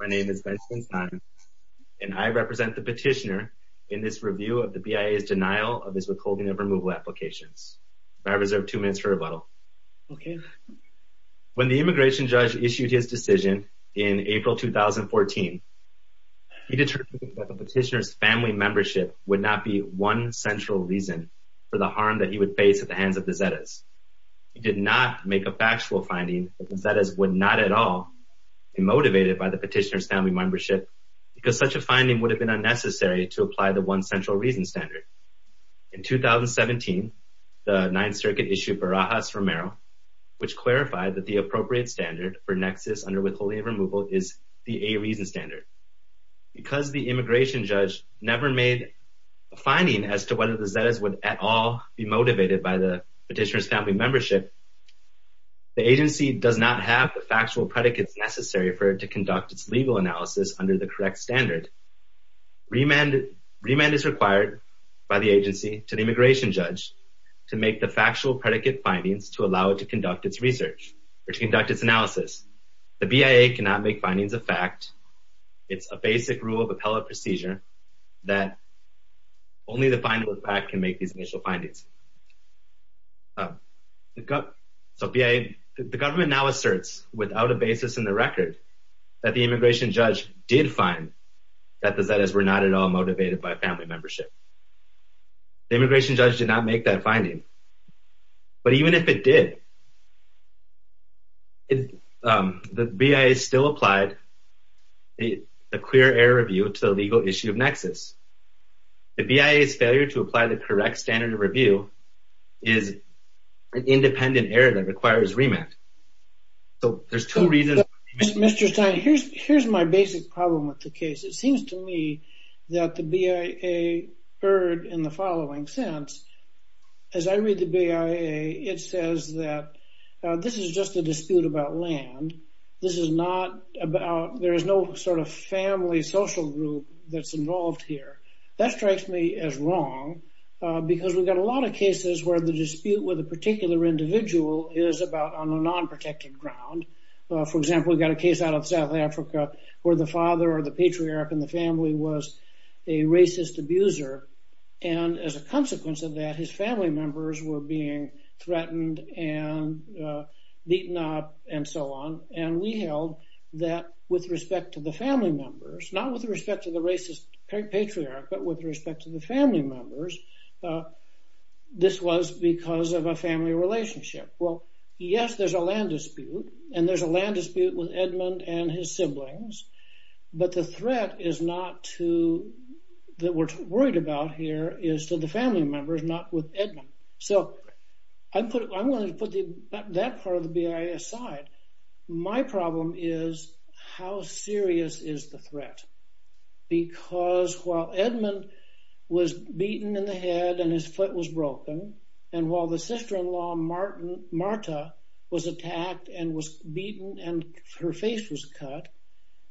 My name is Benjamin Saenz and I represent the petitioner in this review of the BIA's denial of his withholding of removal applications. I reserve two minutes for rebuttal. When the immigration judge issued his decision in April 2014, he determined that the petitioner's family membership would not be one central reason for the harm that he would face at the hands of the Zetas. He did not make a factual finding that the Zetas would not at all be motivated by the petitioner's family membership because such a finding would have been unnecessary to apply the one central reason standard. In 2017, the 9th Circuit issued Barajas-Romero, which clarified that the appropriate standard for nexus under withholding of removal is the A reason standard. Because the immigration judge never made a finding as to whether the Zetas would at all be motivated by the petitioner's family membership, the agency does not have the factual predicates necessary for it to conduct its legal analysis under the correct standard. Remand is required by the agency to the immigration judge to make the factual predicate findings to allow it to conduct its research or to conduct its analysis. The BIA cannot make findings of fact. It's a basic rule of appellate procedure that only the finding of fact can make these initial findings. The government now asserts without a basis in the record that the immigration judge did find that the Zetas were not at all motivated by family membership. The immigration judge did not make that finding. But even if it did, the BIA still applied a clear error review to the legal issue of nexus. The BIA's failure to apply the correct standard of review is an independent error that requires remand. So there's two reasons. Mr. Stein, here's my basic problem with the case. It seems to me that the BIA erred in the following sense. As I read the BIA, it says that this is just a dispute about land. This is not about, there is no sort of family social group that's involved here. That strikes me as wrong because we've got a lot of cases where the dispute with a particular individual is about on a non-protected ground. For example, we've got a case out of South Africa where the father or the patriarch in the family was a racist abuser. And as a consequence of that, his family members were being threatened and beaten up and so on. And we held that with respect to the family members, not with respect to the racist patriarch, but with respect to the family members, this was because of a family relationship. Well, yes, there's a land dispute and there's a land dispute with Edmund and his siblings. But the threat is not to, that we're worried about here is to the family members, not with Edmund. So I'm going to put that part of the BIA aside. My problem is how serious is the threat? Because while Edmund was beaten in the head and his foot was broken, and while the sister-in-law Marta was attacked and was beaten and her face was cut,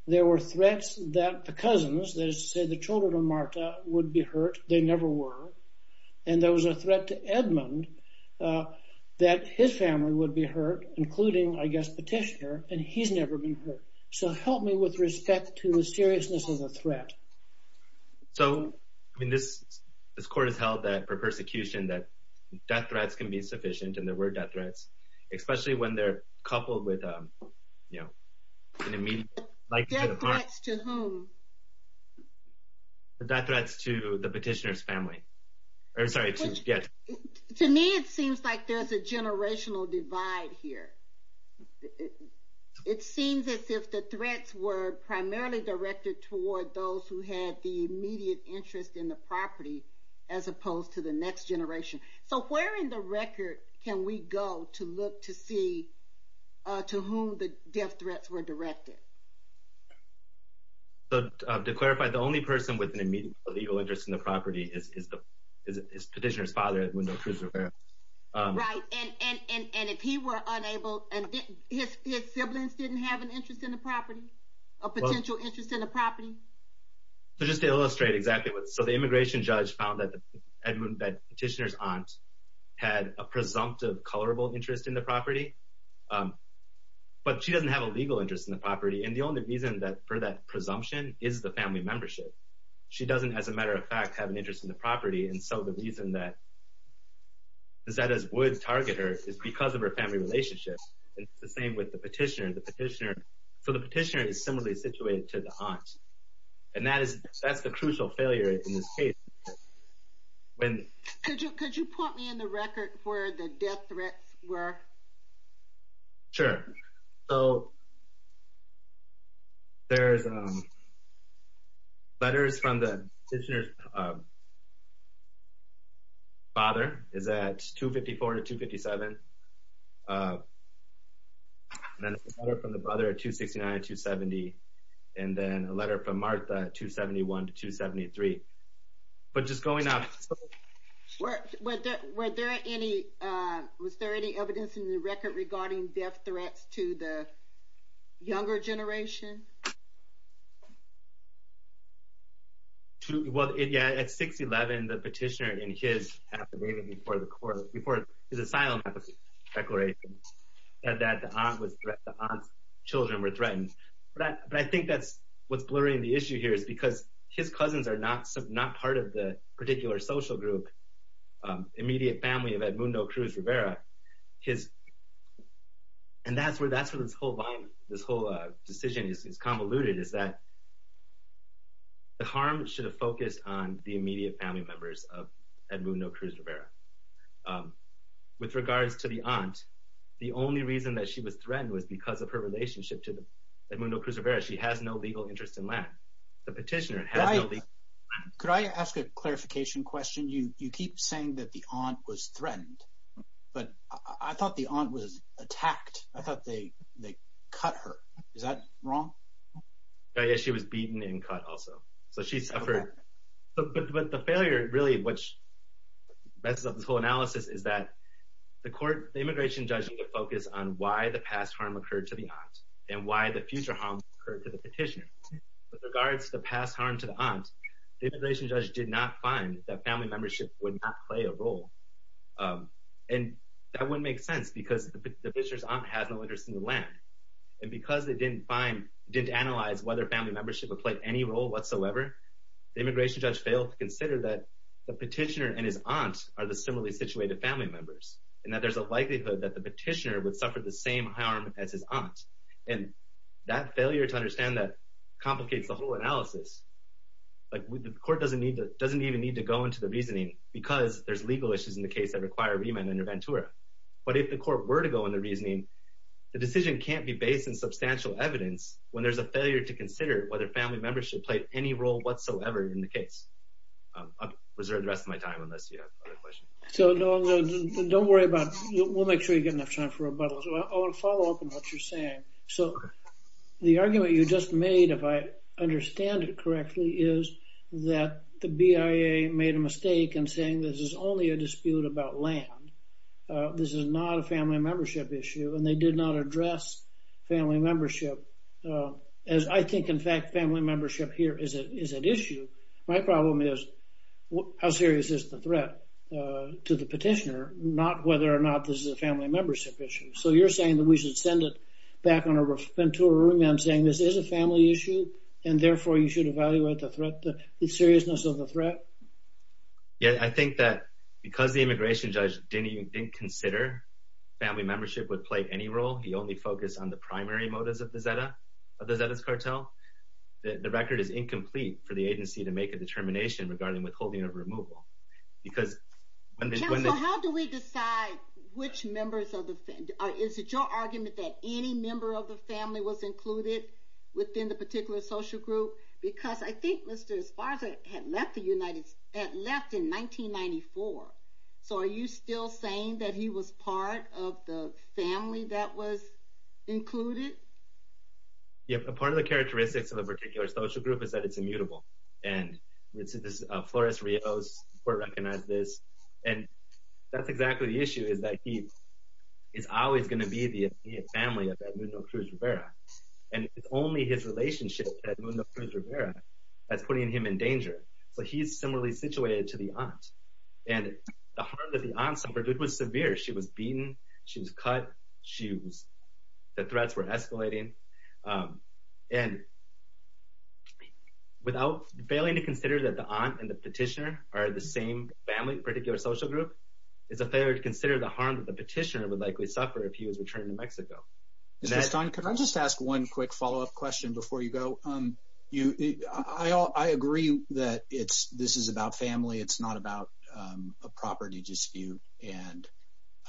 there were threats that the cousins, that is to say the children of Marta, would be hurt. They never were. And there was a threat to Edmund that his family would be hurt, including, I guess, Petitioner, and he's never been hurt. So help me with respect to the seriousness of the threat. So, I mean, this court has held that for persecution that death threats can be sufficient, and there were death threats, especially when they're coupled with, you know, an immediate... Death threats to whom? Death threats to the Petitioner's family. To me, it seems like there's a generational divide here. It seems as if the threats were primarily directed toward those who had the immediate interest in the property, as opposed to the next generation. So where in the record can we go to look to see to whom the death threats were directed? To clarify, the only person with an immediate legal interest in the property is Petitioner's father, Edmund O. Cruz Rivera. Right, and if he were unable, and his siblings didn't have an interest in the property, a potential interest in the property? So just to illustrate exactly what... So the immigration judge found that Petitioner's aunt had a presumptive, colorable interest in the property, but she doesn't have a legal interest in the property. And the only reason for that presumption is the family membership. She doesn't, as a matter of fact, have an interest in the property, and so the reason that Zetas would target her is because of her family relationship. And it's the same with the Petitioner. So the Petitioner is similarly situated to the aunt, and that's the crucial failure in this case. Could you put me in the record where the death threats were? Sure. So there's letters from the Petitioner's father. Is that 254 to 257? And then a letter from the brother at 269 to 270, and then a letter from Martha at 271 to 273. But just going off... Was there any evidence in the record regarding death threats to the younger generation? Well, yeah, at 611, the Petitioner, in his affidavit before his asylum application declaration, said that the aunt's children were threatened. But I think that's what's blurring the issue here is because his cousins are not part of the particular social group, immediate family of Edmundo Cruz Rivera. And that's where this whole decision is convoluted, is that the harm should have focused on the immediate family members of Edmundo Cruz Rivera. With regards to the aunt, the only reason that she was threatened was because of her relationship to Edmundo Cruz Rivera. She has no legal interest in land. The Petitioner has no legal interest in land. Could I ask a clarification question? You keep saying that the aunt was threatened, but I thought the aunt was attacked. I thought they cut her. Is that wrong? Yeah, she was beaten and cut also. So she suffered. But the failure really, which messes up this whole analysis, is that the immigration judge needed to focus on why the past harm occurred to the aunt and why the future harm occurred to the Petitioner. With regards to the past harm to the aunt, the immigration judge did not find that family membership would not play a role. And that wouldn't make sense because the Petitioner's aunt has no interest in the land. And because they didn't analyze whether family membership would play any role whatsoever, the immigration judge failed to consider that the Petitioner and his aunt are the similarly situated family members and that there's a likelihood that the Petitioner would suffer the same harm as his aunt. And that failure to understand that complicates the whole analysis. The court doesn't even need to go into the reasoning because there's legal issues in the case that require remand under Ventura. But if the court were to go into reasoning, the decision can't be based on substantial evidence when there's a failure to consider whether family membership played any role whatsoever in the case. I'll reserve the rest of my time unless you have other questions. So don't worry about, we'll make sure you get enough time for rebuttals. I want to follow up on what you're saying. So the argument you just made, if I understand it correctly, is that the BIA made a mistake in saying this is only a dispute about land. This is not a family membership issue and they did not address family membership. As I think, in fact, family membership here is an issue. My problem is how serious is the threat to the Petitioner, not whether or not this is a family membership issue. So you're saying that we should send it back on a Ventura remand saying this is a family issue and therefore you should evaluate the threat, the seriousness of the threat? Yeah, I think that because the immigration judge didn't consider family membership would play any role, he only focused on the primary motives of the Zetas cartel, the record is incomplete for the agency to make a determination regarding withholding or removal. Counsel, how do we decide which members of the family, is it your argument that any member of the family was included within the particular social group? Because I think Mr. Esparza had left in 1994. So are you still saying that he was part of the family that was included? Yeah, part of the characteristics of a particular social group is that it's immutable. And Flores Rios recognized this. And that's exactly the issue is that he is always going to be the family of Edmundo Cruz Rivera. And it's only his relationship to Edmundo Cruz Rivera that's putting him in danger. So he's similarly situated to the aunt. And the harm that the aunt suffered was severe. She was beaten, she was cut, the threats were escalating. And without failing to consider that the aunt and the petitioner are the same family, particular social group, it's a failure to consider the harm that the petitioner would likely suffer if he was returning to Mexico. Can I just ask one quick follow-up question before you go? I agree that this is about family. It's not about a property dispute. And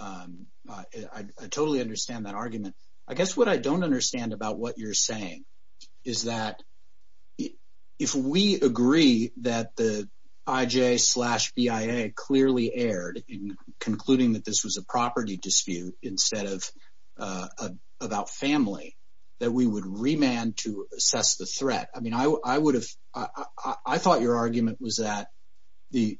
I totally understand that argument. I guess what I don't understand about what you're saying is that if we agree that the IJ slash BIA clearly erred in concluding that this was a property dispute instead of about family, that we would remand to assess the threat. I thought your argument was that the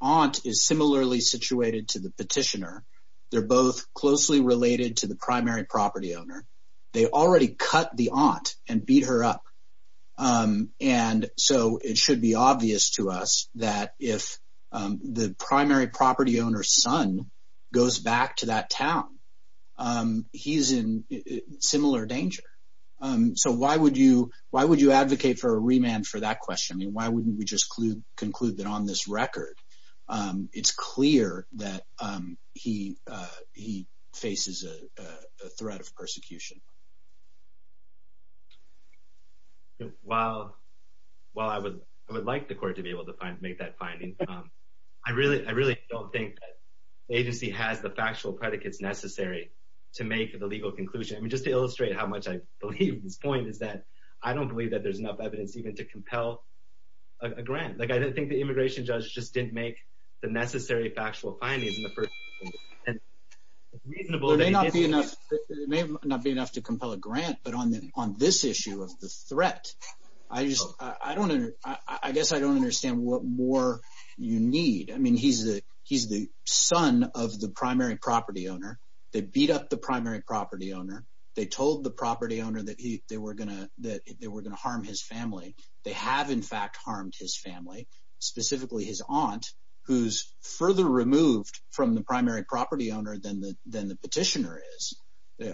aunt is similarly situated to the petitioner. They're both closely related to the primary property owner. They already cut the aunt and beat her up. And so it should be obvious to us that if the primary property owner's son goes back to that town, he's in similar danger. So why would you advocate for a remand for that question? I mean, why wouldn't we just conclude that on this record, it's clear that he faces a threat of persecution? While I would like the court to be able to make that finding, I really don't think the agency has the factual predicates necessary to make the legal conclusion. I mean just to illustrate how much I believe this point is that I don't believe that there's enough evidence even to compel a grant. I think the immigration judge just didn't make the necessary factual findings in the first place. It may not be enough to compel a grant, but on this issue of the threat, I just – I don't – I guess I don't understand what more you need. I mean he's the son of the primary property owner. They beat up the primary property owner. They told the property owner that they were going to harm his family. They have in fact harmed his family, specifically his aunt, who's further removed from the primary property owner than the petitioner is.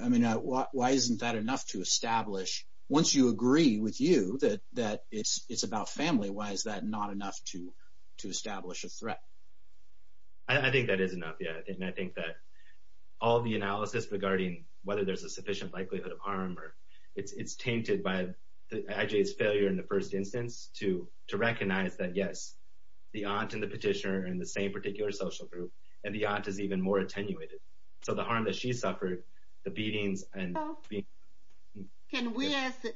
I mean why isn't that enough to establish – once you agree with you that it's about family, why is that not enough to establish a threat? I think that is enough, yeah, and I think that all the analysis regarding whether there's a sufficient likelihood of harm or – it's tainted by I.J.'s failure in the first instance to recognize that yes, the aunt and the petitioner are in the same particular social group and the aunt is even more attenuated. So the harm that she suffered, the beatings and – Can we as the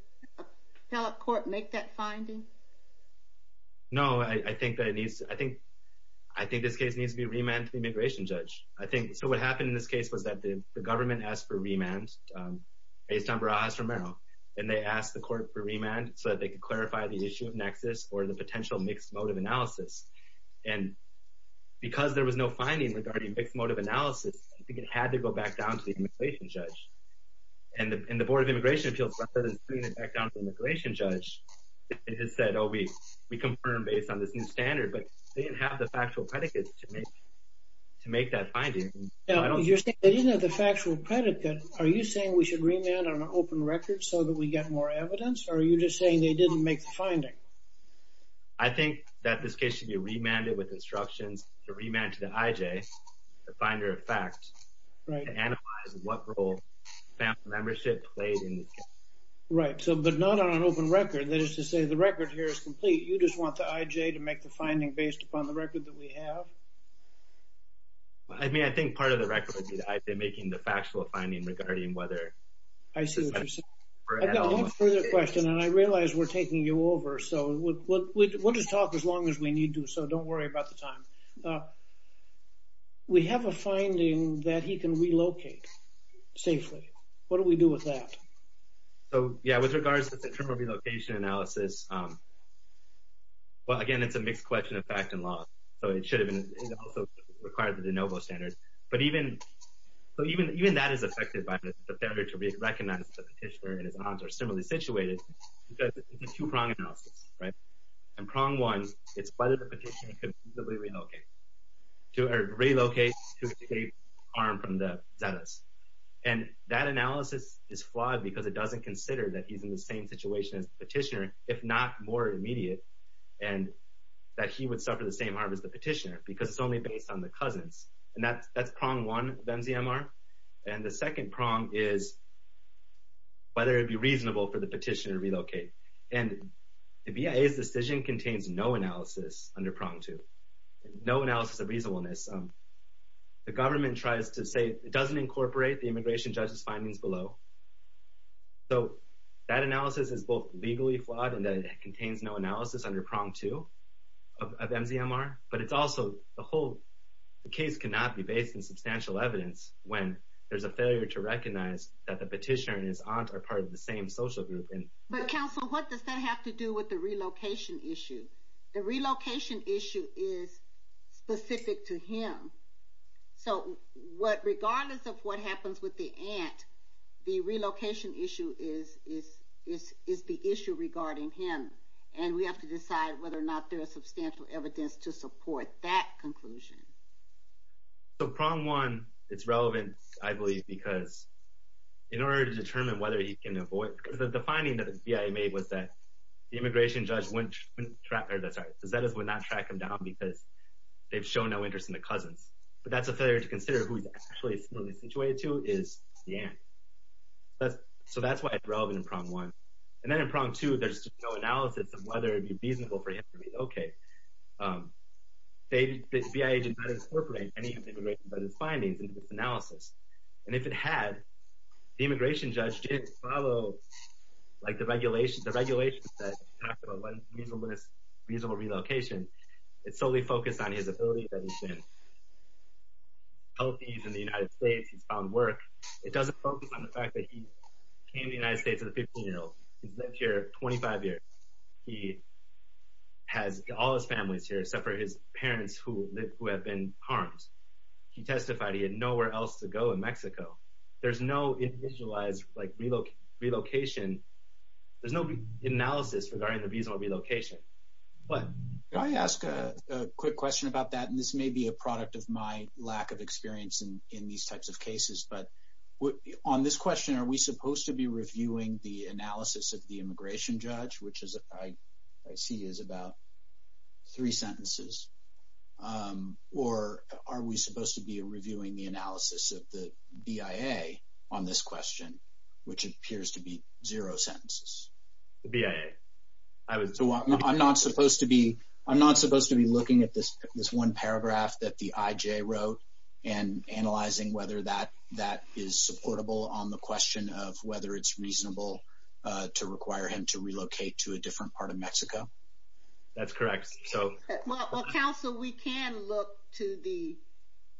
appellate court make that finding? No, I think that it needs – I think this case needs to be remanded to the immigration judge. I think – so what happened in this case was that the government asked for remand based on Barajas-Romero, and they asked the court for remand so that they could clarify the issue of nexus or the potential mixed motive analysis. And because there was no finding regarding mixed motive analysis, I think it had to go back down to the immigration judge. And the Board of Immigration Appeals, rather than bringing it back down to the immigration judge, they just said, oh, we confirm based on this new standard, but they didn't have the factual predicate to make that finding. Now, you're saying they didn't have the factual predicate. Are you saying we should remand on an open record so that we get more evidence, or are you just saying they didn't make the finding? I think that this case should be remanded with instructions to remand to the IJ, the finder of fact, to analyze what role family membership played in this case. Right, but not on an open record. That is to say the record here is complete. You just want the IJ to make the finding based upon the record that we have? I mean, I think part of the record would be the IJ making the factual finding regarding whether – I see what you're saying. I've got one further question, and I realize we're taking you over, so we'll just talk as long as we need to, so don't worry about the time. We have a finding that he can relocate safely. What do we do with that? So, yeah, with regards to the terminal relocation analysis, well, again, it's a mixed question of fact and law, so it should have been – it also required the de novo standard. But even – so even that is affected by the failure to recognize the petitioner and his aunts are similarly situated because it's a two-prong analysis, right? And prong one, it's whether the petitioner could feasibly relocate or relocate to escape harm from the Zetas. And that analysis is flawed because it doesn't consider that he's in the same situation as the petitioner, if not more immediate, and that he would suffer the same harm as the petitioner because it's only based on the cousins. And that's prong one of MZMR. And the second prong is whether it would be reasonable for the petitioner to relocate. And the BIA's decision contains no analysis under prong two, no analysis of reasonableness. The government tries to say it doesn't incorporate the immigration judge's findings below. So that analysis is both legally flawed in that it contains no analysis under prong two of MZMR, but it's also the whole case cannot be based on substantial evidence when there's a failure to recognize that the petitioner and his aunt are part of the same social group. But, counsel, what does that have to do with the relocation issue? The relocation issue is specific to him. So regardless of what happens with the aunt, the relocation issue is the issue regarding him. And we have to decide whether or not there is substantial evidence to support that conclusion. So prong one, it's relevant, I believe, because in order to determine whether he can avoid because the finding that the BIA made was that the immigration judge would not track him down because they've shown no interest in the cousins. But that's a failure to consider who he's actually situated to is the aunt. So that's why it's relevant in prong one. And then in prong two, there's no analysis of whether it would be reasonable for him to be okay. The BIA did not incorporate any of the immigration judge's findings into this analysis. And if it had, the immigration judge didn't follow, like, the regulations that talk about reasonable relocation. It solely focused on his ability that he's been healthy in the United States. He's found work. It doesn't focus on the fact that he came to the United States at 15 years old. He's lived here 25 years. He has all his families here except for his parents who have been harmed. He testified he had nowhere else to go in Mexico. There's no individualized, like, relocation. There's no analysis regarding the reasonable relocation. Can I ask a quick question about that? And this may be a product of my lack of experience in these types of cases. But on this question, are we supposed to be reviewing the analysis of the immigration judge, which I see is about three sentences? Or are we supposed to be reviewing the analysis of the BIA on this question, which appears to be zero sentences? The BIA. I'm not supposed to be looking at this one paragraph that the IJ wrote and analyzing whether that is supportable on the question of whether it's reasonable to require him to relocate to a different part of Mexico? That's correct. Well, counsel, we can look to the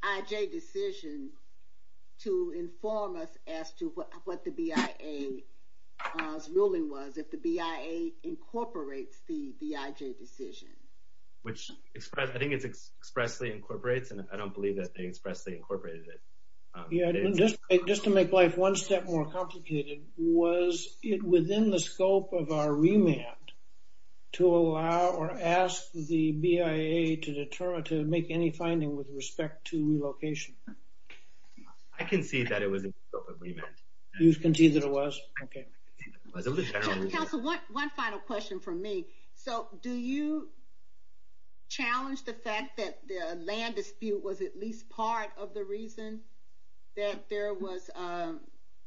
IJ decision to inform us as to what the BIA's ruling was, if the BIA incorporates the IJ decision. Which I think it expressly incorporates, and I don't believe that they expressly incorporated it. Just to make life one step more complicated, was it within the scope of our remand to allow or ask the BIA to make any finding with respect to relocation? I concede that it was in the scope of remand. You concede that it was? Okay. Counsel, one final question from me. So do you challenge the fact that the land dispute was at least part of the reason that there was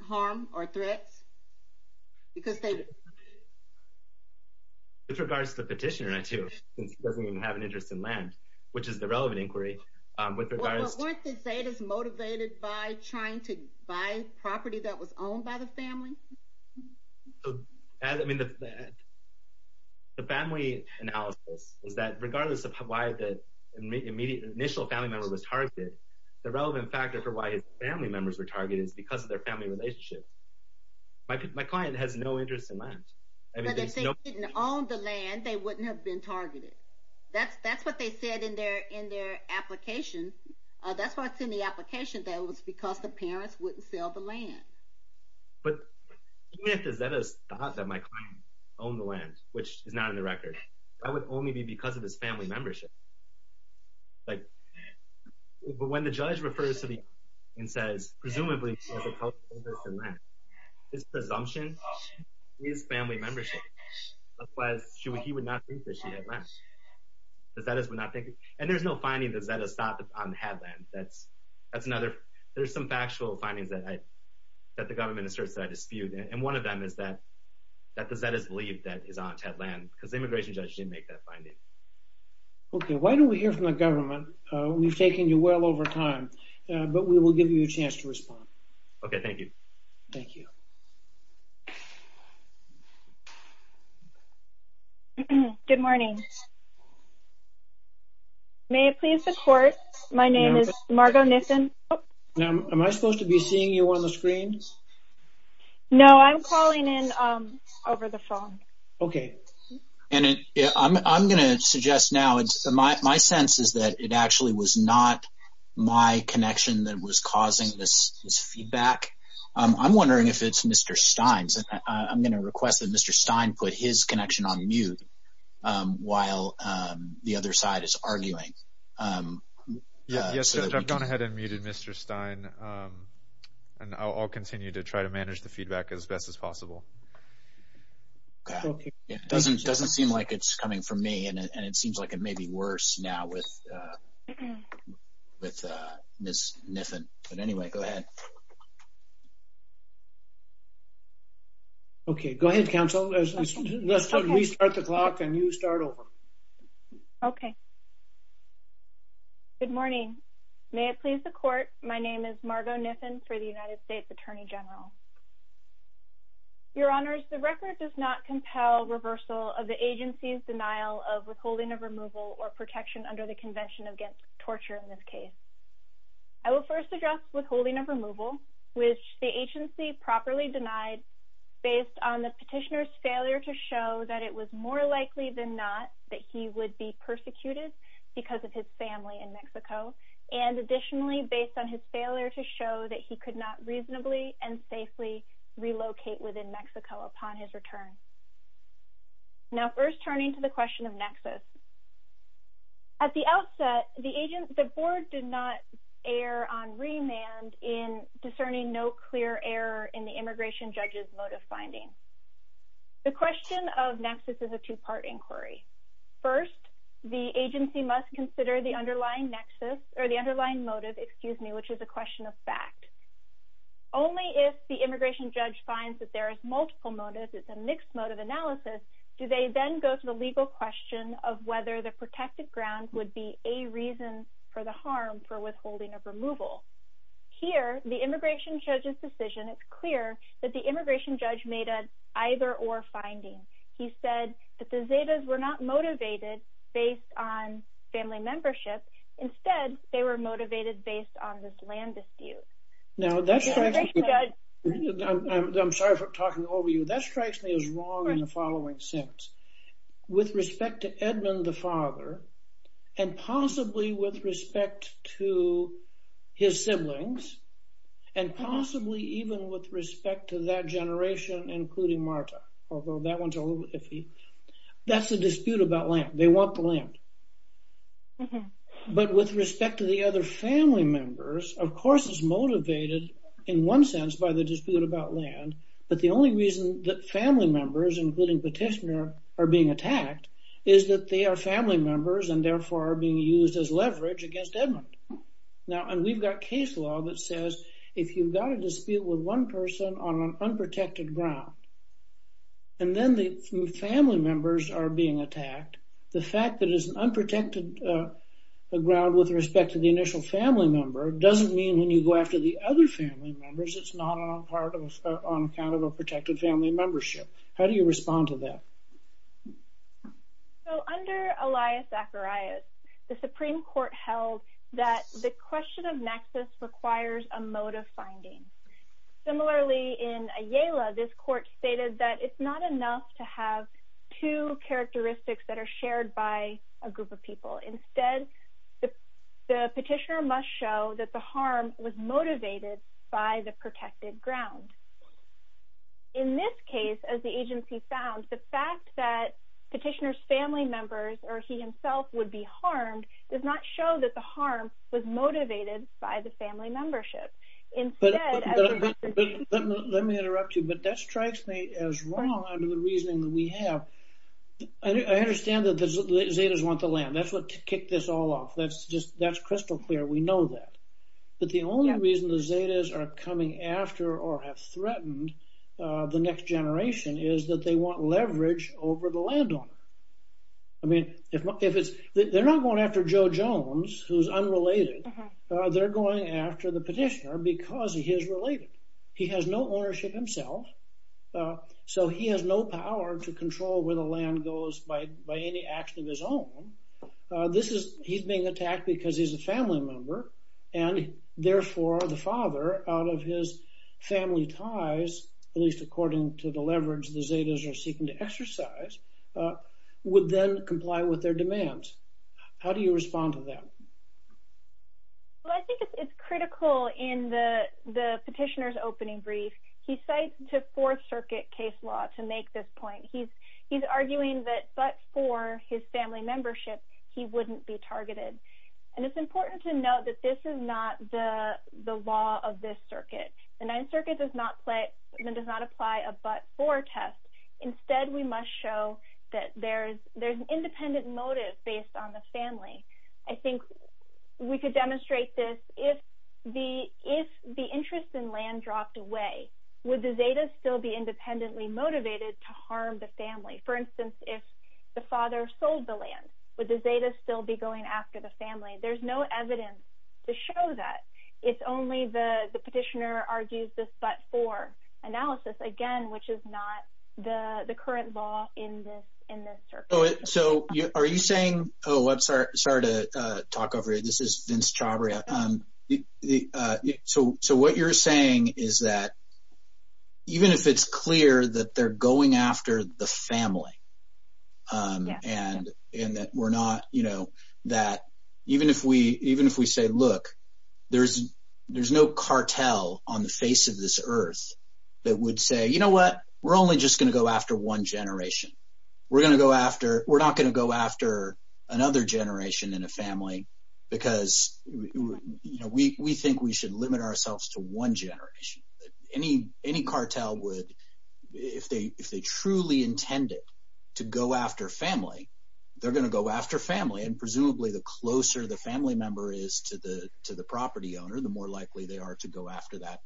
harm or threats? With regards to the petitioner, I do, since he doesn't even have an interest in land, which is the relevant inquiry. Weren't the Zetas motivated by trying to buy property that was owned by the family? The family analysis is that regardless of why the initial family member was targeted, the relevant factor for why his family members were targeted is because of their family relationship. My client has no interest in land. But if they didn't own the land, they wouldn't have been targeted. That's what they said in their application. That's why it's in the application that it was because the parents wouldn't sell the land. But even if the Zetas thought that my client owned the land, which is not in the record, that would only be because of his family membership. But when the judge refers to the application and says, presumably, he has a cultural interest in land, his presumption is family membership. Otherwise, he would not think that she had land. The Zetas would not think it. And there's no finding that the Zetas thought that I had land. There's some factual findings that the government asserts that I dispute. And one of them is that the Zetas believed that his aunt had land because the immigration judge didn't make that finding. Okay, why don't we hear from the government? We've taken you well over time, but we will give you a chance to respond. Okay, thank you. Thank you. Good morning. May it please the court? My name is Margo Nissen. Am I supposed to be seeing you on the screen? No, I'm calling in over the phone. Okay. And I'm going to suggest now, my sense is that it actually was not my connection that was causing this feedback. I'm wondering if it's Mr. Stein's. I'm going to request that Mr. Stein put his connection on mute while the other side is arguing. Yes, Judge, I've gone ahead and muted Mr. Stein, and I'll continue to try to manage the feedback as best as possible. It doesn't seem like it's coming from me, and it seems like it may be worse now with Ms. Nissen. But anyway, go ahead. Okay, go ahead, counsel. We start the clock, and you start over. Okay. Good morning. May it please the court? My name is Margo Nissen for the United States Attorney General. Your Honors, the record does not compel reversal of the agency's denial of withholding of removal or protection under the Convention Against Torture in this case. I will first address withholding of removal, which the agency properly denied based on the petitioner's failure to show that it was more likely than not that he would be persecuted because of his family in Mexico, and additionally based on his failure to show that he could not reasonably and safely relocate within Mexico upon his return. Now, first turning to the question of nexus. At the outset, the board did not err on remand in discerning no clear error in the immigration judge's motive finding. The question of nexus is a two-part inquiry. First, the agency must consider the underlying motive, which is a question of fact. Only if the immigration judge finds that there is multiple motives, it's a mixed motive analysis, do they then go to the legal question of whether the protected grounds would be a reason for the harm for withholding of removal. Here, the immigration judge's decision, it's clear that the immigration judge made an either-or finding. He said that the Zetas were not motivated based on family membership. Instead, they were motivated based on this land dispute. Now, that strikes me. I'm sorry for talking over you. That strikes me as wrong in the following sense. With respect to Edmund, the father, and possibly with respect to his siblings, and possibly even with respect to that generation, including Marta, although that one's a little iffy, that's a dispute about land. They want the land. But with respect to the other family members, of course it's motivated in one sense by the dispute about land, but the only reason that family members, including Petitioner, are being attacked is that they are family members and therefore are being used as leverage against Edmund. Now, we've got case law that says if you've got a dispute with one person on an unprotected ground, and then the family members are being attacked, the fact that it's an unprotected ground with respect to the initial family member doesn't mean when you go after the other family members it's not on account of a protected family membership. How do you respond to that? So, under Elias Zacharias, the Supreme Court held that the question of nexus requires a motive finding. Similarly, in Ayala, this court stated that it's not enough to have two characteristics that are shared by a group of people. Instead, the Petitioner must show that the harm was motivated by the protected ground. In this case, as the agency found, the fact that Petitioner's family members or he himself would be harmed does not show that the harm was motivated by the family membership. Let me interrupt you, but that strikes me as wrong under the reasoning that we have. I understand that the Zetas want the land. That's what kicked this all off. That's crystal clear. We know that. But the only reason the Zetas are coming after or have threatened the next generation is that they want leverage over the landowner. I mean, they're not going after Joe Jones, who's unrelated. They're going after the Petitioner because he is related. He has no ownership himself, so he has no power to control where the land goes by any action of his own. He's being attacked because he's a family member, and therefore the father, out of his family ties, at least according to the leverage the Zetas are seeking to exercise, would then comply with their demands. How do you respond to that? Well, I think it's critical in the Petitioner's opening brief. He cites the Fourth Circuit case law to make this point. He's arguing that but for his family membership, he wouldn't be targeted. And it's important to note that this is not the law of this circuit. The Ninth Circuit does not apply a but-for test. Instead, we must show that there's an independent motive based on the family. I think we could demonstrate this. If the interest in land dropped away, would the Zetas still be independently motivated to harm the family? For instance, if the father sold the land, would the Zetas still be going after the family? There's no evidence to show that. It's only the Petitioner argues this but-for analysis, again, which is not the current law in this circuit. So are you saying – oh, I'm sorry to talk over you. This is Vince Chabria. So what you're saying is that even if it's clear that they're going after the family and that we're not – that even if we say, look, there's no cartel on the face of this earth that would say, you know what? We're only just going to go after one generation. We're going to go after – we're not going to go after another generation in a family because we think we should limit ourselves to one generation. Any cartel would – if they truly intended to go after family, they're going to go after family. And presumably, the closer the family member is to the property owner, the more likely they are to go after that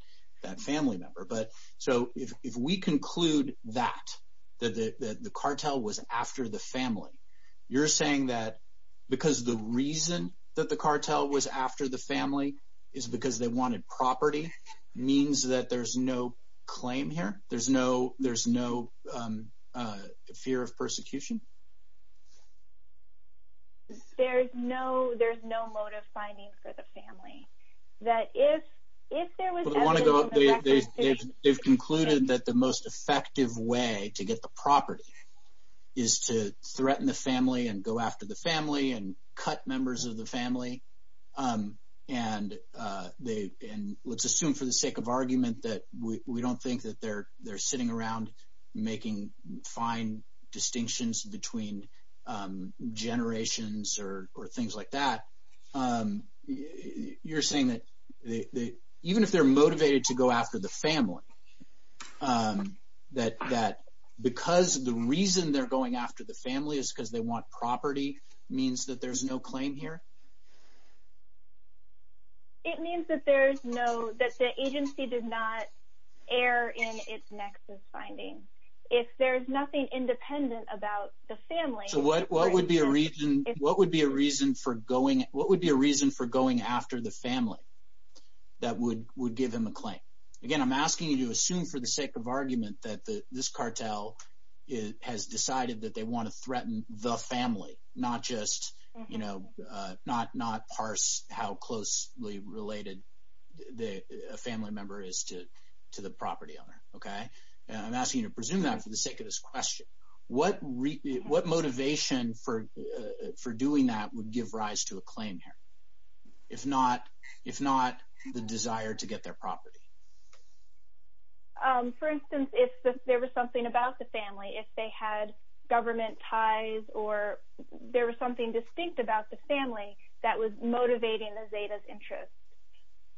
family member. But so if we conclude that, that the cartel was after the family, you're saying that because the reason that the cartel was after the family is because they wanted property means that there's no claim here? There's no fear of persecution? There's no motive finding for the family. That if there was evidence of persecution…… between generations or things like that, you're saying that even if they're motivated to go after the family, that because the reason they're going after the family is because they want property means that there's no claim here? It means that there's no – that the agency did not err in its nexus finding. If there's nothing independent about the family… So what would be a reason for going – what would be a reason for going after the family that would give him a claim? Again, I'm asking you to assume for the sake of argument that this cartel has decided that they want to threaten the family, not just – not parse how closely related a family member is to the property owner. I'm asking you to presume that for the sake of this question. What motivation for doing that would give rise to a claim here, if not the desire to get their property? For instance, if there was something about the family, if they had government ties or there was something distinct about the family that was motivating the Zetas' interest.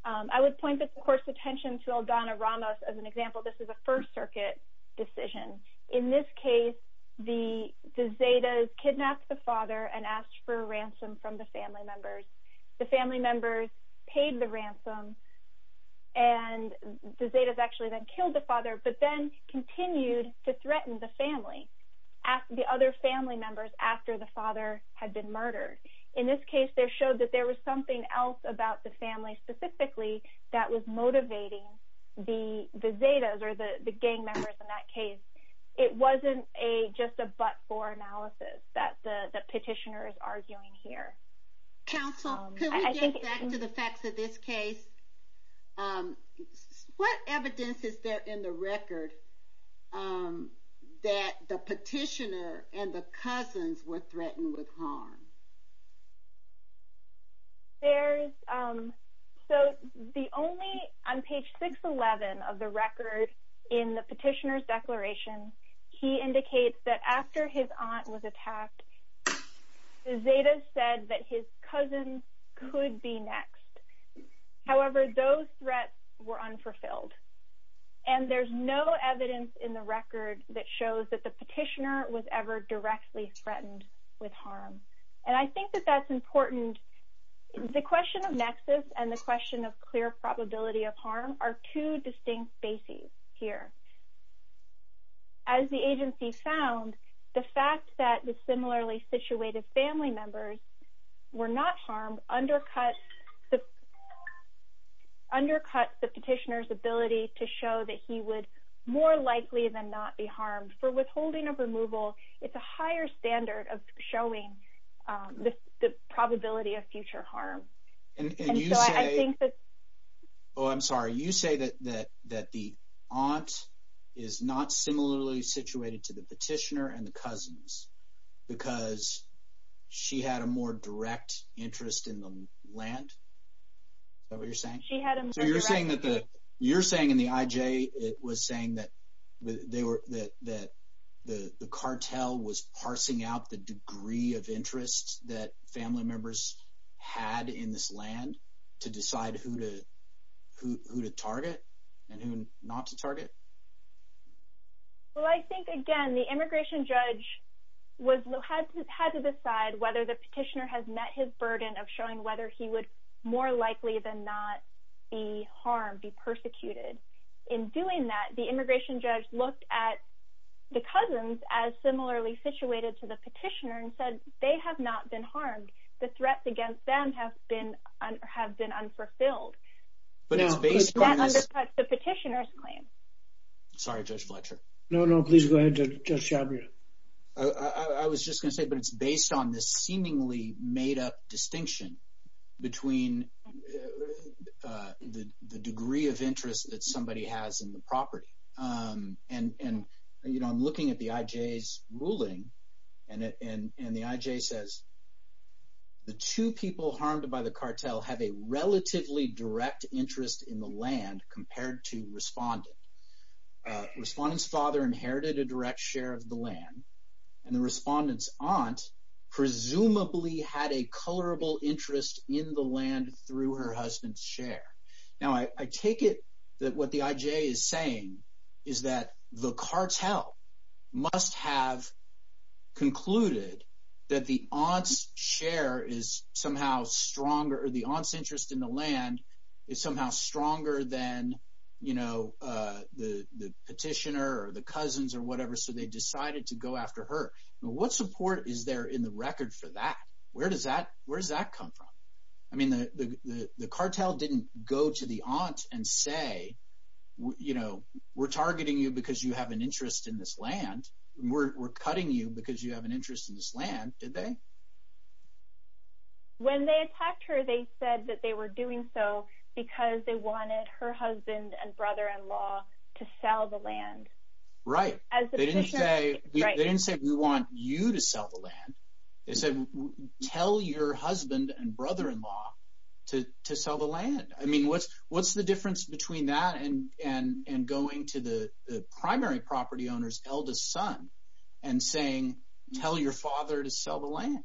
I would point, of course, attention to Aldana Ramos as an example. This is a First Circuit decision. In this case, the Zetas kidnapped the father and asked for a ransom from the family members. The family members paid the ransom, and the Zetas actually then killed the father, but then continued to threaten the family, the other family members, after the father had been murdered. In this case, they showed that there was something else about the family specifically that was motivating the Zetas or the gang members in that case. It wasn't just a but-for analysis that the petitioner is arguing here. Counsel, can we get back to the facts of this case? What evidence is there in the record that the petitioner and the cousins were threatened with harm? On page 611 of the record in the petitioner's declaration, he indicates that after his aunt was attacked, the Zetas said that his cousins could be next. However, those threats were unfulfilled, and there's no evidence in the record that shows that the petitioner was ever directly threatened with harm. I think that that's important. The question of nexus and the question of clear probability of harm are two distinct bases here. As the agency found, the fact that the similarly situated family members were not harmed undercut the petitioner's ability to show that he would more likely than not be harmed. For withholding of removal, it's a higher standard of showing the probability of future harm. And you say – oh, I'm sorry. You say that the aunt is not similarly situated to the petitioner and the cousins because she had a more direct interest in the land? Is that what you're saying? So you're saying in the IJ, it was saying that the cartel was parsing out the degree of interest that family members had in this land to decide who to target and who not to target? Well, I think, again, the immigration judge had to decide whether the petitioner has met his burden of showing whether he would more likely than not be harmed, be persecuted. In doing that, the immigration judge looked at the cousins as similarly situated to the petitioner and said they have not been harmed. The threats against them have been unfulfilled. That undercuts the petitioner's claim. Sorry, Judge Fletcher. No, no. Please go ahead, Judge Shabir. I was just going to say, but it's based on this seemingly made-up distinction between the degree of interest that somebody has in the property. And I'm looking at the IJ's ruling, and the IJ says the two people harmed by the cartel have a relatively direct interest in the land compared to Respondent. Respondent's father inherited a direct share of the land, and the Respondent's aunt presumably had a colorable interest in the land through her husband's share. Now, I take it that what the IJ is saying is that the cartel must have concluded that the aunt's share is somehow stronger or the aunt's interest in the land is somehow stronger than the petitioner or the cousins or whatever, so they decided to go after her. What support is there in the record for that? Where does that come from? I mean the cartel didn't go to the aunt and say we're targeting you because you have an interest in this land. We're cutting you because you have an interest in this land, did they? When they attacked her, they said that they were doing so because they wanted her husband and brother-in-law to sell the land. As the petitioner – They didn't say we want you to sell the land. They said tell your husband and brother-in-law to sell the land. I mean what's the difference between that and going to the primary property owner's eldest son and saying tell your father to sell the land?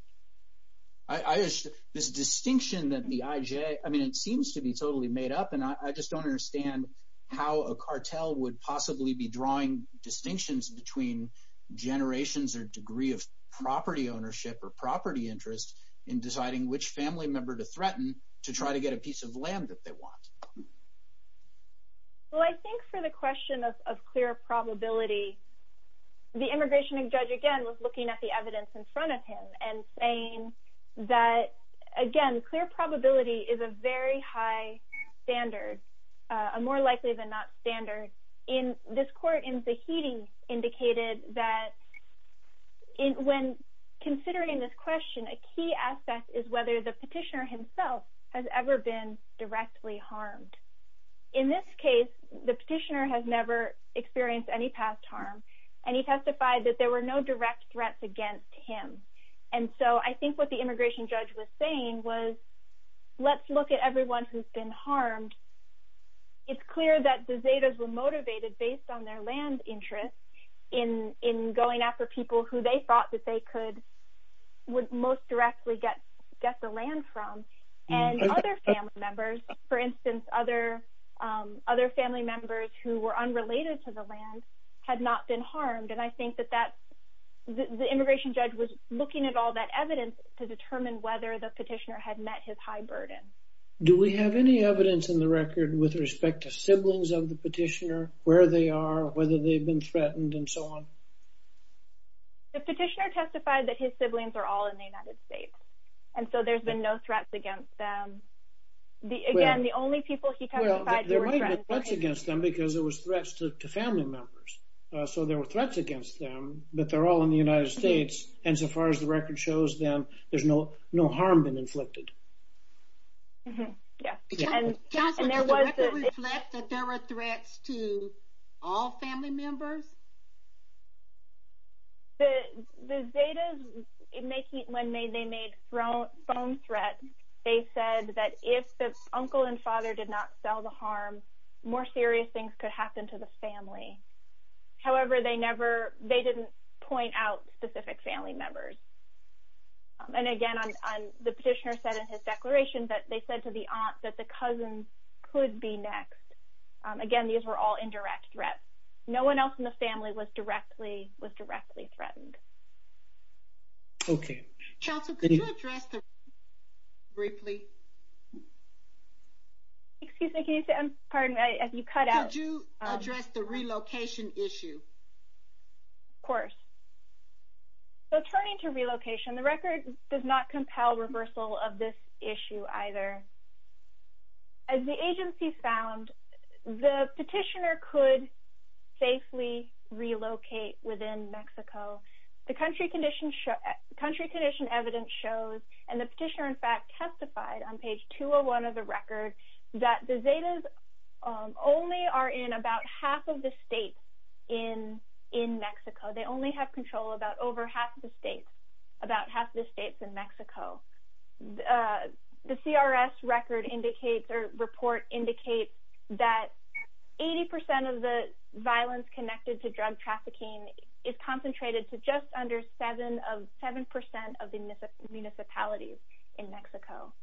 This distinction that the IJ – I mean it seems to be totally made up, and I just don't understand how a cartel would possibly be drawing distinctions between generations or degree of property ownership or property interest in deciding which family member to threaten to try to get a piece of land that they want. Well I think for the question of clear probability, the immigration judge again was looking at the evidence in front of him and saying that, again, clear probability is a very high standard, a more likely than not standard. This court in Zahidi indicated that when considering this question, a key aspect is whether the petitioner himself has ever been directly harmed. In this case, the petitioner has never experienced any past harm, and he testified that there were no direct threats against him. And so I think what the immigration judge was saying was let's look at everyone who's been harmed. It's clear that the Zahidas were motivated based on their land interest in going after people who they thought that they could most directly get the land from. And other family members, for instance, other family members who were unrelated to the land had not been harmed. And I think that the immigration judge was looking at all that evidence to determine whether the petitioner had met his high burden. Do we have any evidence in the record with respect to siblings of the petitioner, where they are, whether they've been threatened, and so on? The petitioner testified that his siblings are all in the United States, and so there's been no threats against them. Again, the only people he testified to were friends. Well, there might have been threats against them because it was threats to family members. So there were threats against them, but they're all in the United States. And so far as the record shows them, there's no harm been inflicted. Mm-hmm. Yeah. And there was the... Counselor, does the record reflect that there were threats to all family members? The Zetas, when they made phone threats, they said that if the uncle and father did not sell the harm, more serious things could happen to the family. However, they didn't point out specific family members. And again, the petitioner said in his declaration that they said to the aunt that the cousins could be next. Again, these were all indirect threats. No one else in the family was directly threatened. Okay. Counselor, could you address the... Briefly. Excuse me, can you say, pardon me, as you cut out... Could you address the relocation issue? Of course. So turning to relocation, the record does not compel reversal of this issue either. As the agency found, the petitioner could safely relocate within Mexico. The country condition evidence shows, and the petitioner in fact testified on page 201 of the record, that the Zetas only are in about half of the states in Mexico. They only have control about over half of the states, about half of the states in Mexico. The CRS record indicates or report indicates that 80% of the violence connected to drug trafficking is concentrated to just under 7% of the municipalities in Mexico.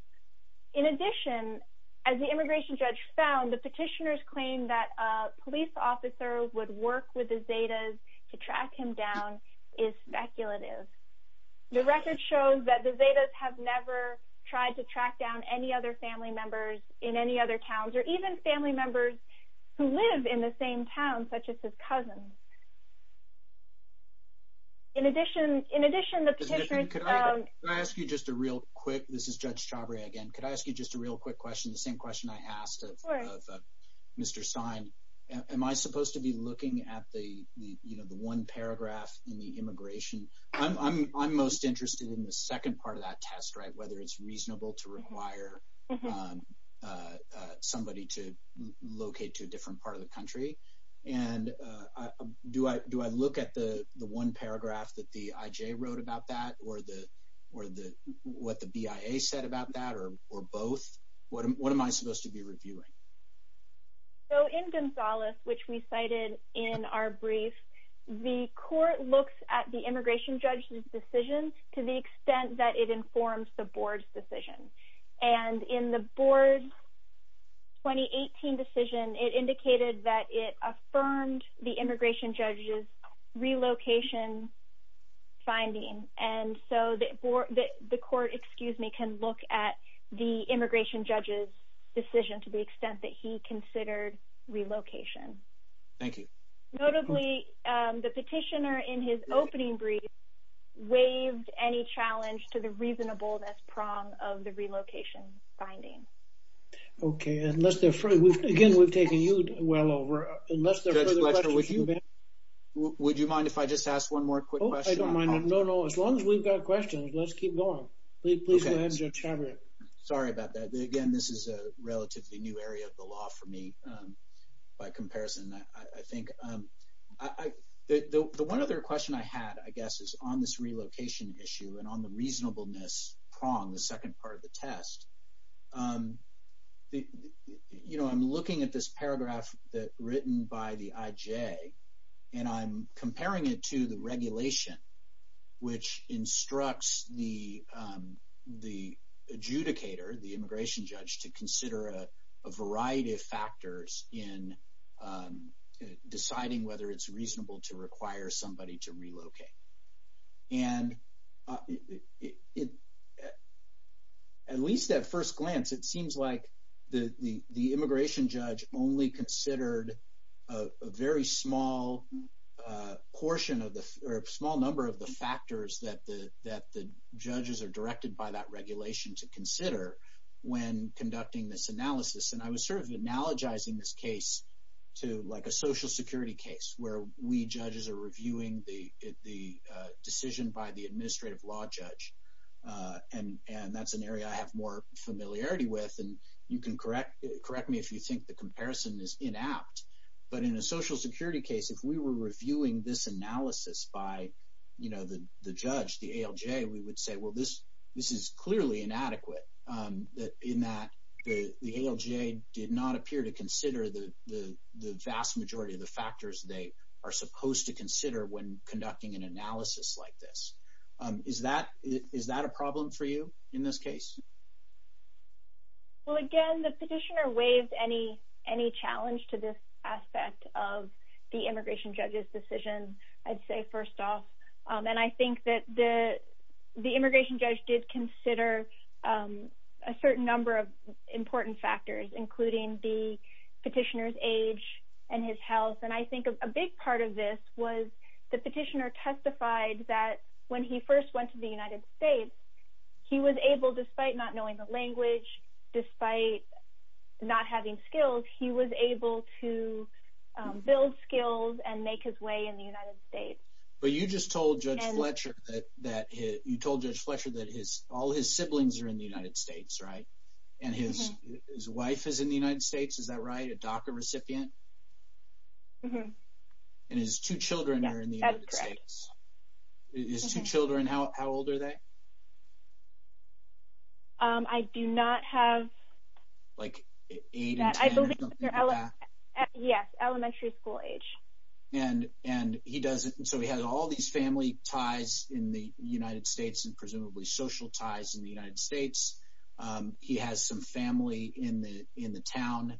In addition, as the immigration judge found, the petitioner's claim that a police officer would work with the Zetas to track him down is speculative. The record shows that the Zetas have never tried to track down any other family members in any other towns, or even family members who live in the same town, such as his cousins. In addition, the petitioner... Could I ask you just a real quick... This is Judge Chabria again. Could I ask you just a real quick question, the same question I asked of Mr. Stein? Am I supposed to be looking at the one paragraph in the immigration... I'm most interested in the second part of that test, right, whether it's reasonable to require somebody to locate to a different part of the country. And do I look at the one paragraph that the IJ wrote about that, or what the BIA said about that, or both? What am I supposed to be reviewing? So in Gonzales, which we cited in our brief, the court looks at the immigration judge's decision to the extent that it informs the board's decision. And in the board's 2018 decision, it indicated that it affirmed the immigration judge's relocation finding. And so the court can look at the immigration judge's decision to the extent that he considered relocation. Thank you. Notably, the petitioner, in his opening brief, waived any challenge to the reasonableness prong of the relocation finding. Okay. Again, we've taken you well over. Would you mind if I just ask one more quick question? No, no. As long as we've got questions, let's keep going. Please go ahead, Mr. Chairman. Sorry about that. Again, this is a relatively new area of the law for me by comparison, I think. The one other question I had, I guess, is on this relocation issue and on the reasonableness prong, the second part of the test. You know, I'm looking at this paragraph written by the IJ, and I'm comparing it to the regulation which instructs the adjudicator, the immigration judge, to consider a variety of factors in deciding whether it's reasonable to require somebody to relocate. And at least at first glance, it seems like the immigration judge only considered a very small portion of the or a small number of the factors that the judges are directed by that regulation to consider when conducting this analysis. And I was sort of analogizing this case to like a social security case where we judges are reviewing the decision by the administrative law judge. And that's an area I have more familiarity with, and you can correct me if you think the comparison is inapt. But in a social security case, if we were reviewing this analysis by, you know, the judge, the ALJ, we would say, well, this is clearly inadequate in that the ALJ did not appear to consider the vast majority of the factors they are supposed to consider when conducting an analysis like this. Is that a problem for you in this case? Well, again, the petitioner waived any challenge to this aspect of the immigration judge's decision, I'd say, first off. And I think that the immigration judge did consider a certain number of important factors, including the petitioner's age and his health. And I think a big part of this was the petitioner testified that when he first went to the United States, he was able, despite not knowing the language, despite not having skills, he was able to build skills and make his way in the United States. But you just told Judge Fletcher that – you told Judge Fletcher that all his siblings are in the United States, right? And his wife is in the United States. Is that right? A DACA recipient? And his two children are in the United States. That's correct. His two children, how old are they? I do not have – Like 8 and 10 or something like that? Yes, elementary school age. And he doesn't – so he has all these family ties in the United States and presumably social ties in the United States. He has some family in the town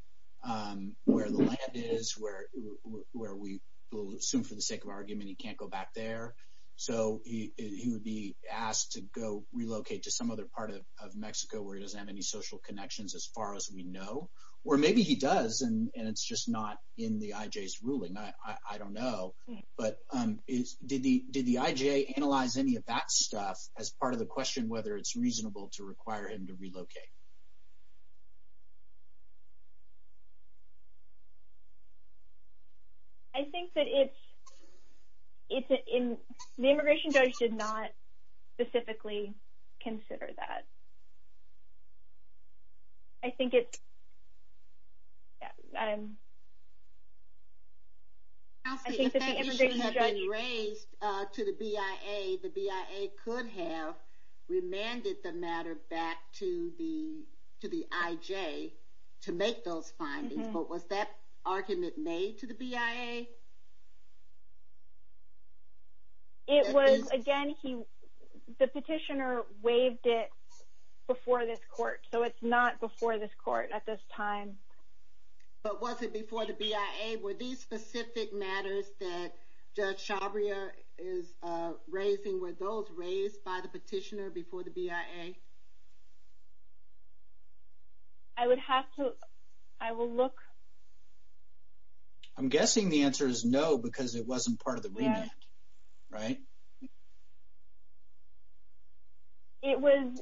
where the land is, where we will assume for the sake of argument he can't go back there. So he would be asked to go relocate to some other part of Mexico where he doesn't have any social connections as far as we know. Or maybe he does, and it's just not in the IJ's ruling. I don't know. But did the IJ analyze any of that stuff as part of the question whether it's reasonable to require him to relocate? I think that it's – the immigration judge did not specifically consider that. I think it's – I think that the immigration judge – Kelsey, if that issue had been raised to the BIA, the BIA could have remanded the matter back to the IJ to make those findings. But was that argument made to the BIA? It was – again, he – the petitioner waived it before this court, so it's not before this court at this time. But was it before the BIA? Were these specific matters that Judge Shabria is raising, were those raised by the petitioner before the BIA? I would have to – I will look. I'm guessing the answer is no because it wasn't part of the remand, right? It was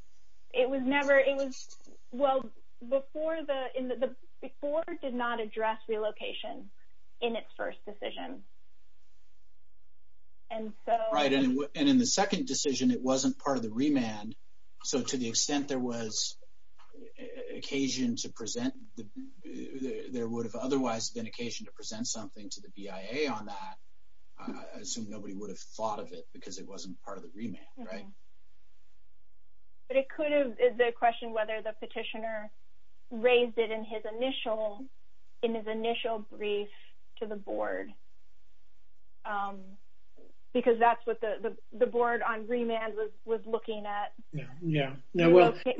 – it was never – it was – well, before the – before did not address relocation in its first decision. And so – Right. And in the second decision, it wasn't part of the remand. So to the extent there was occasion to present – there would have otherwise been occasion to present something to the BIA on that, I assume nobody would have thought of it because it wasn't part of the remand, right? But it could have – the question whether the petitioner raised it in his initial – in his initial brief to the board because that's what the board on remand was looking at. Yeah, yeah.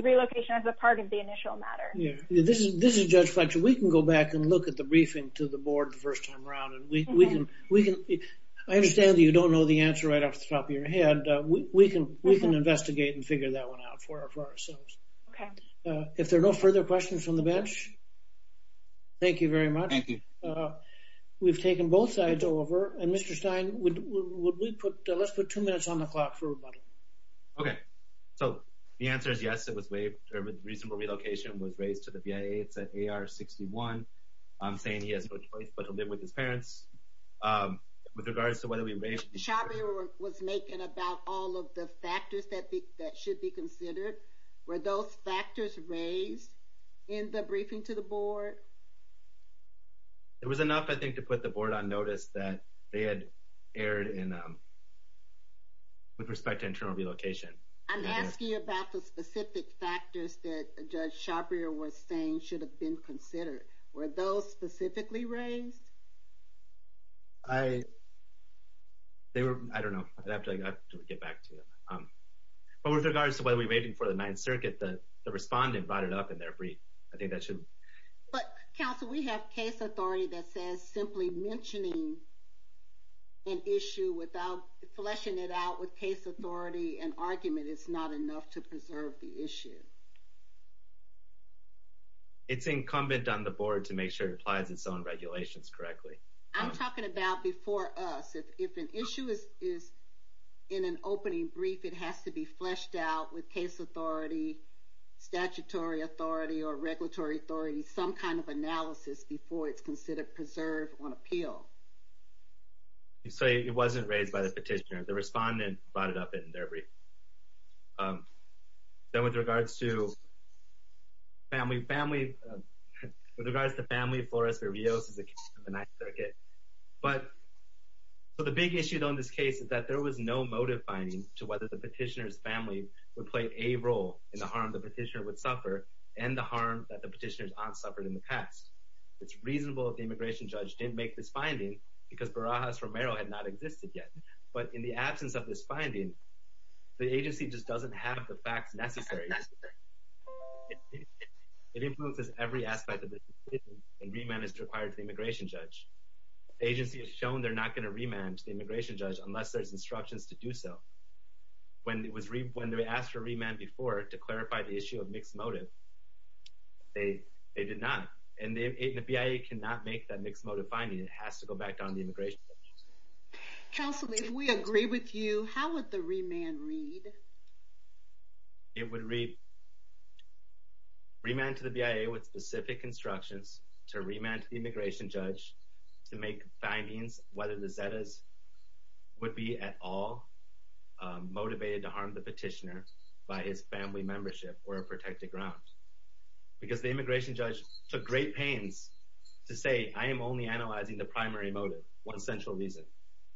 Relocation as a part of the initial matter. Yeah. This is Judge Fletcher. We can go back and look at the briefing to the board the first time around and we can – we can – I understand that you don't know the answer right off the top of your head. And we can – we can investigate and figure that one out for ourselves. Okay. If there are no further questions from the bench, thank you very much. Thank you. We've taken both sides over. And Mr. Stein, would we put – let's put two minutes on the clock for rebuttal. Okay. So the answer is yes, it was waived – reasonable relocation was raised to the BIA. It's at AR-61. I'm saying he has no choice but to live with his parents. With regards to whether we raised – Shabrier was making about all of the factors that should be considered. Were those factors raised in the briefing to the board? It was enough, I think, to put the board on notice that they had erred in – with respect to internal relocation. I'm asking about the specific factors that Judge Shabrier was saying should have been considered. Were those specifically raised? I – they were – I don't know. I'd have to get back to you. But with regards to whether we're waiting for the Ninth Circuit, the respondent brought it up in their brief. I think that should – But, counsel, we have case authority that says simply mentioning an issue without – fleshing it out with case authority and argument is not enough to preserve the issue. It's incumbent on the board to make sure it applies its own regulations correctly. I'm talking about before us. If an issue is in an opening brief, it has to be fleshed out with case authority, statutory authority, or regulatory authority, some kind of analysis before it's considered preserved on appeal. So it wasn't raised by the petitioner. The respondent brought it up in their brief. Then with regards to family – with regards to family, Flores-Virios is the case of the Ninth Circuit. But the big issue, though, in this case is that there was no motive finding to whether the petitioner's family would play a role in the harm the petitioner would suffer and the harm that the petitioner's aunt suffered in the past. It's reasonable that the immigration judge didn't make this finding because Barajas-Romero had not existed yet. But in the absence of this finding, the agency just doesn't have the facts necessary. It influences every aspect of the decision, and remand is required to the immigration judge. The agency has shown they're not going to remand the immigration judge unless there's instructions to do so. When they asked for remand before to clarify the issue of mixed motive, they did not. And the BIA cannot make that mixed motive finding. It has to go back down to the immigration judge. Counsel, if we agree with you, how would the remand read? It would read, remand to the BIA with specific instructions to remand to the immigration judge to make findings whether the Zetas would be at all motivated to harm the petitioner by his family membership or a protected ground. Because the immigration judge took great pains to say, I am only analyzing the primary motive, one central reason.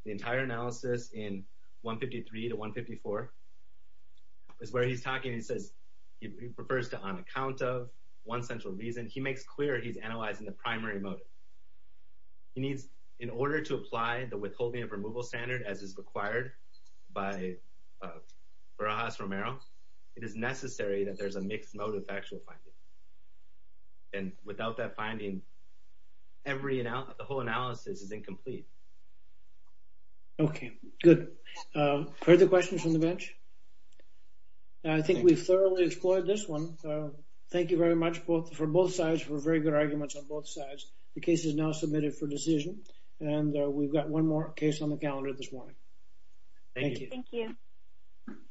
The entire analysis in 153 to 154 is where he's talking, he says, he prefers to on account of one central reason. He makes clear he's analyzing the primary motive. He needs, in order to apply the withholding of removal standard as is required by Barajas-Romero, it is necessary that there's a mixed motive actual finding. And without that finding, the whole analysis is incomplete. Okay, good. Further questions from the bench? I think we've thoroughly explored this one. Thank you very much for both sides for very good arguments on both sides. The case is now submitted for decision. And we've got one more case on the calendar this morning. Thank you.